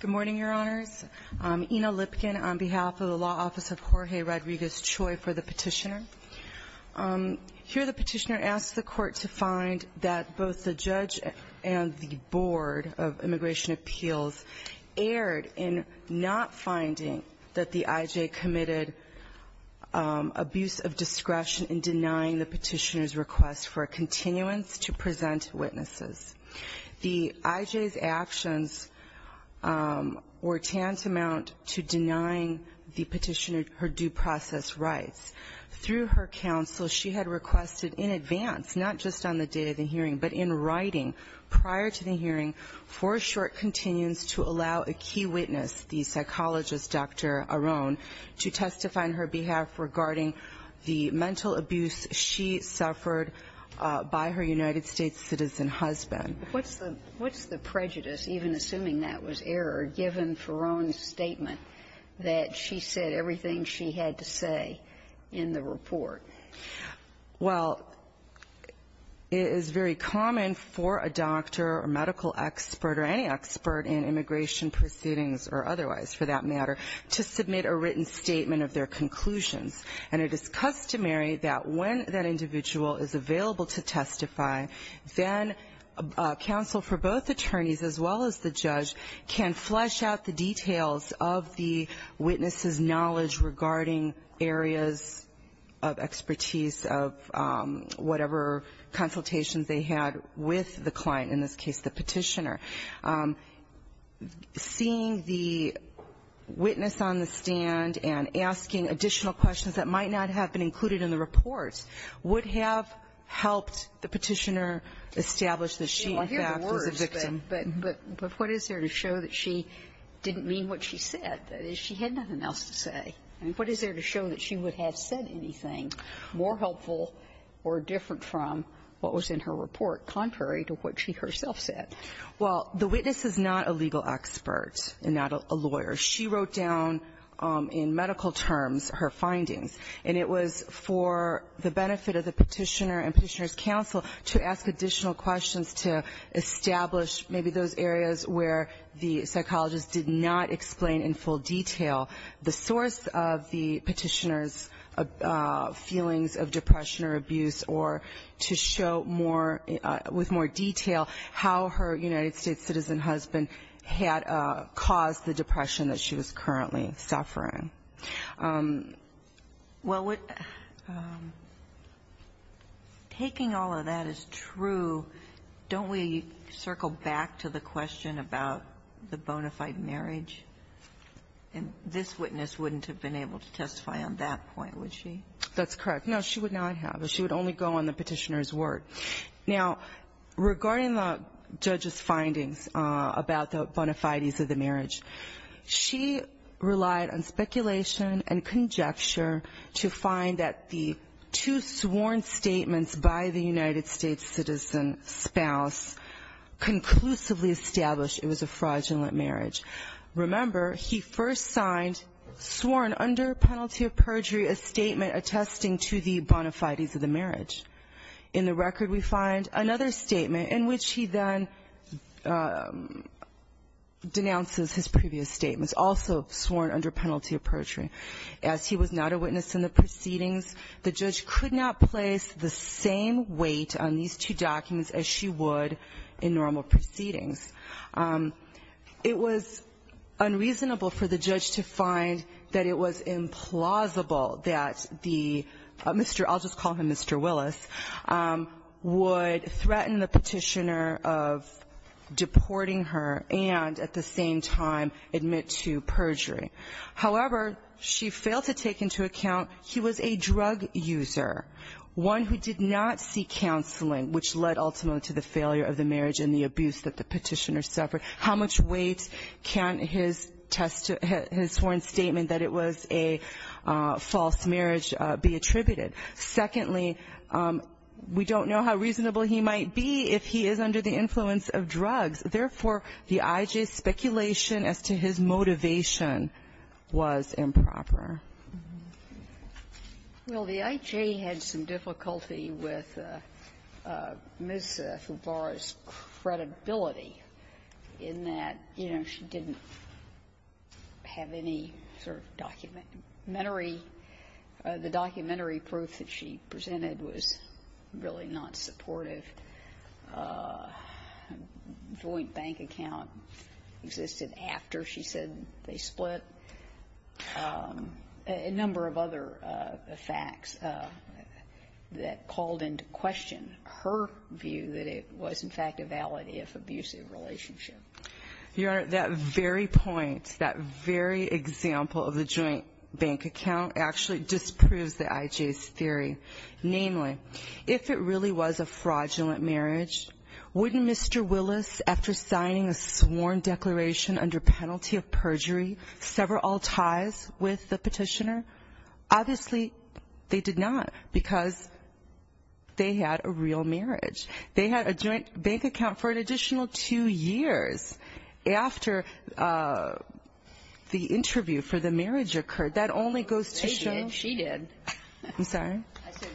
Good morning, Your Honors. Ina Lipkin on behalf of the Law Office of Jorge Rodriguez-Choi for the Petitioner. Here the Petitioner asks the Court to find that both the Judge and the Board of Immigration Appeals erred in not finding that the IJ committed abuse of discretion in denying the Petitioner's request for a continuance to present witnesses. The IJ's actions were tantamount to denying the Petitioner her due process rights. Through her counsel, she had requested in advance, not just on the day of the hearing, but in writing prior to the hearing, for a short continuance to allow a key witness, the psychologist Dr. Arone, to testify on her behalf regarding the mental abuse she suffered by her United States citizen husband. What's the prejudice, even assuming that was error, given for Arone's statement that she said everything she had to say in the report? Well, it is very common for a doctor or medical expert or any expert in immigration proceedings or otherwise, for that matter, to submit a written statement of their conclusions. And it is customary that when that individual is available to testify, then counsel for both attorneys as well as the judge can flesh out the details of the expertise of whatever consultations they had with the client, in this case the Petitioner. Seeing the witness on the stand and asking additional questions that might not have been included in the report would have helped the Petitioner establish that she, in fact, was a victim. Well, I hear the words, but what is there to show that she didn't mean what she said? That is, she had nothing else to say. And what is there to show that she would have said anything more helpful or different from what was in her report, contrary to what she herself said? Well, the witness is not a legal expert and not a lawyer. She wrote down in medical terms her findings, and it was for the benefit of the Petitioner and Petitioner's counsel to ask additional questions to establish maybe those areas where the psychologist did not explain in full detail the source of the Petitioner's feelings of depression or abuse or to show more with more detail how her United States citizen husband had caused the depression that she was currently suffering. Well, taking all of that as true, don't we circle back to the question about the bona fide marriage? And this witness wouldn't have been able to testify on that point, would she? That's correct. No, she would not have. She would only go on the Petitioner's word. Now, regarding the judge's findings about the bona fides of the marriage, she relied on speculation and conjecture to find that the two sworn statements by the United States citizen spouse conclusively established it was a fraudulent marriage. Remember, he first signed, sworn under penalty of perjury, a statement attesting to the bona fides of the marriage. In the record, we find another statement in which he then denounces his previous statements, also sworn under penalty of perjury. As he was not a witness in the proceedings, the judge could not place the same weight on these two documents as she would in normal proceedings. It was unreasonable for the judge to find that it was implausible that the Mr. Willis, or I'll just call him Mr. Willis, would threaten the Petitioner of deporting her and at the same time admit to perjury. However, she failed to take into account he was a drug user, one who did not see counseling, which led ultimately to the failure of the marriage and the abuse that the Petitioner suffered. How much weight can his sworn statement that it was a false marriage be attributed? Secondly, we don't know how reasonable he might be if he is under the influence of drugs. Therefore, the I.J.'s speculation as to his motivation was improper. Well, the I.J. had some difficulty with Ms. Favara's credibility in that, you know, she didn't have any sort of documentary or the documentary proof that she presented was really not supportive. A joint bank account existed after she said they split. A number of other facts that called into question her view that it was, in fact, a valid, if abusive, relationship. Your Honor, that very point, that very example of the joint bank account actually disproves the I.J.'s theory. Namely, if it really was a fraudulent marriage, wouldn't Mr. Willis, after signing a sworn declaration under penalty of perjury, sever all ties with the Petitioner? Obviously, they did not because they had a real marriage. They had a joint bank account for an additional two years after the interview for the marriage occurred. That only goes to show they did. I'm sorry?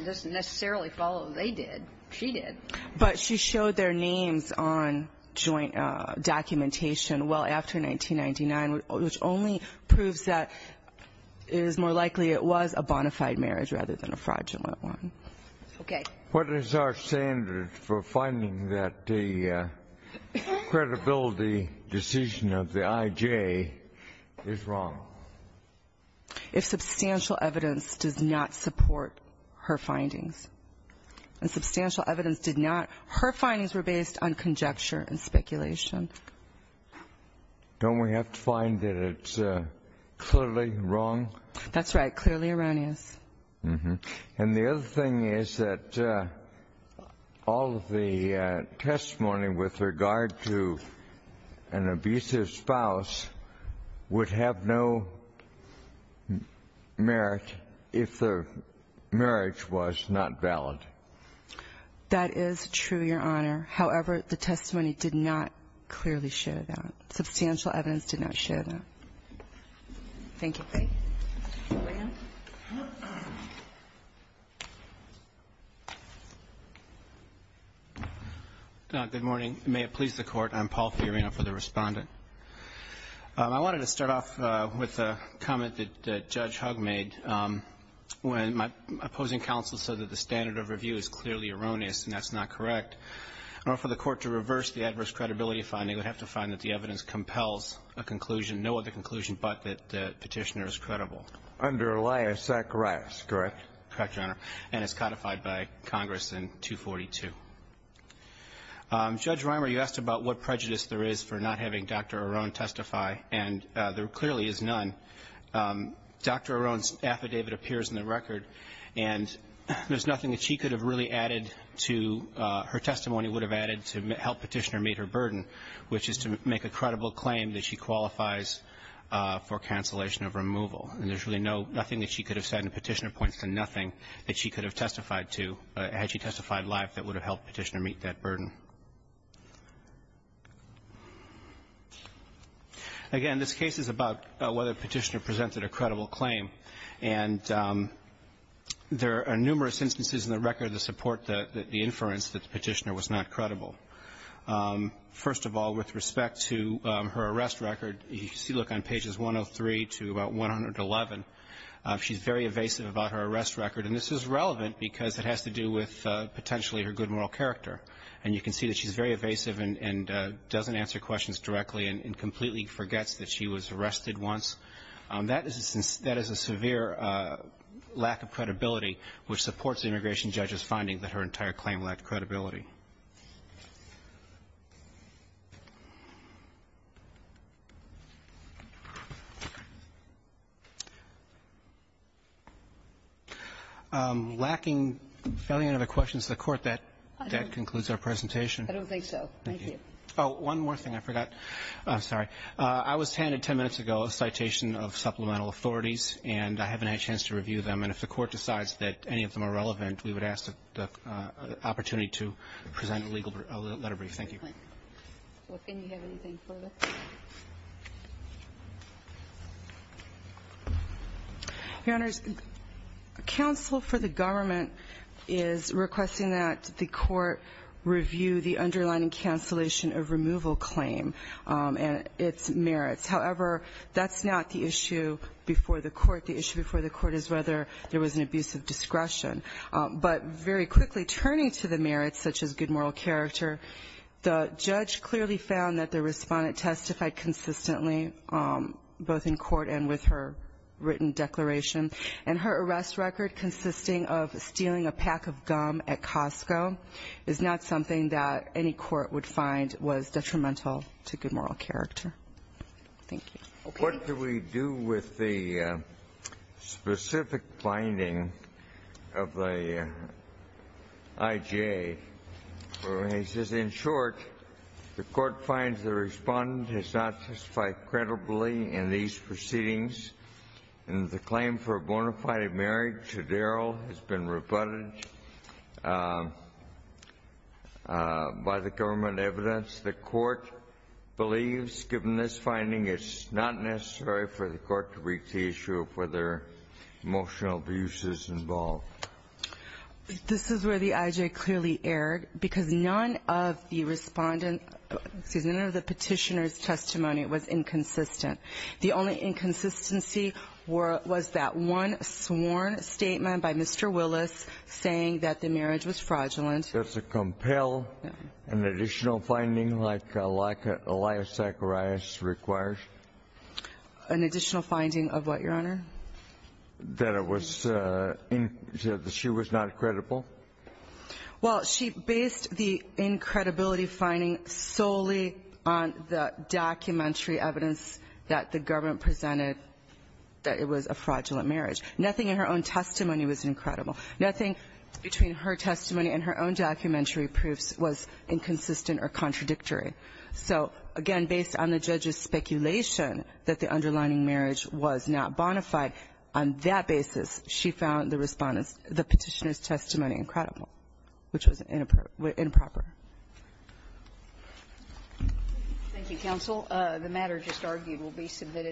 It doesn't necessarily follow they did. She did. But she showed their names on joint documentation well after 1999, which only proves that it is more likely it was a bona fide marriage rather than a fraudulent one. Okay. What is our standard for finding that the credibility decision of the I.J. is wrong? If substantial evidence does not support her findings. And substantial evidence did not. Her findings were based on conjecture and speculation. Don't we have to find that it's clearly wrong? That's right. Clearly erroneous. And the other thing is that all of the testimony with regard to an abusive spouse would have no merit if the marriage was not valid. That is true, Your Honor. However, the testimony did not clearly show that. Substantial evidence did not show that. Thank you. Good morning. May it please the Court. I'm Paul Fiorina for the Respondent. I wanted to start off with a comment that Judge Hugg made when my opposing counsel said that the standard of review is clearly erroneous and that's not correct. In order for the Court to reverse the adverse credibility finding, we would have to find that the evidence compels a conclusion, no other conclusion but that the petitioner is credible. Under Elias Zacharias, correct? Correct, Your Honor. And is codified by Congress in 242. Judge Reimer, you asked about what prejudice there is for not having Dr. Arone testify. And there clearly is none. Dr. Arone's affidavit appears in the record. And there's nothing that she could have really added to her testimony would have added to help petitioner meet her burden, which is to make a credible claim that she qualifies for cancellation of removal. And there's really nothing that she could have said and the petitioner points to nothing that she could have testified to had she testified live that would have helped petitioner meet that burden. Again, this case is about whether the petitioner presented a credible claim. And there are numerous instances in the record that support the inference that the petitioner was not credible. First of all, with respect to her arrest record, you can see, look, on pages 103 to about 111, she's very evasive about her arrest record. And this is relevant because it has to do with potentially her good moral character. And you can see that she's very evasive and doesn't answer questions directly and completely forgets that she was arrested once. That is a severe lack of credibility, which supports the immigration judge's finding that her entire claim lacked credibility. Lacking any other questions to the Court, that concludes our presentation. I don't think so. Thank you. Oh, one more thing I forgot. I'm sorry. I was handed 10 minutes ago a citation of supplemental authorities, and I haven't had a chance to review them. And if the Court decides that any of them are relevant, we would ask the opportunity to present a legal letter brief. Thank you. Well, can you have anything further? Your Honors, counsel for the government is requesting that the Court review the underlying cancellation of removal claim and its merits. However, that's not the issue before the Court. But very quickly, turning to the merits such as good moral character, the judge clearly found that the Respondent testified consistently, both in court and with her written declaration. And her arrest record consisting of stealing a pack of gum at Costco is not something that any court would find was detrimental to good moral character. Thank you. Okay. What do we do with the specific finding of the IJA? He says, in short, the Court finds the Respondent has not testified credibly in these proceedings, and the claim for a bona fide marriage to Daryl has been rebutted by the government evidence. Does the Court believe, given this finding, it's not necessary for the Court to brief the issue of whether emotional abuse is involved? This is where the IJA clearly erred, because none of the Respondent's, excuse me, none of the Petitioner's testimony was inconsistent. The only inconsistency was that one sworn statement by Mr. Willis saying that the marriage was fraudulent. Does it compel an additional finding like Elias Zacharias requires? An additional finding of what, Your Honor? That it was, that she was not credible? Well, she based the incredibility finding solely on the documentary evidence that the government presented that it was a fraudulent marriage. Nothing in her own testimony was incredible. Nothing between her testimony and her own documentary proofs was inconsistent or contradictory. So, again, based on the judge's speculation that the underlining marriage was not bona fide, on that basis, she found the Respondent's, the Petitioner's testimony incredible, which was improper. Thank you, counsel. The matter just argued will be submitted.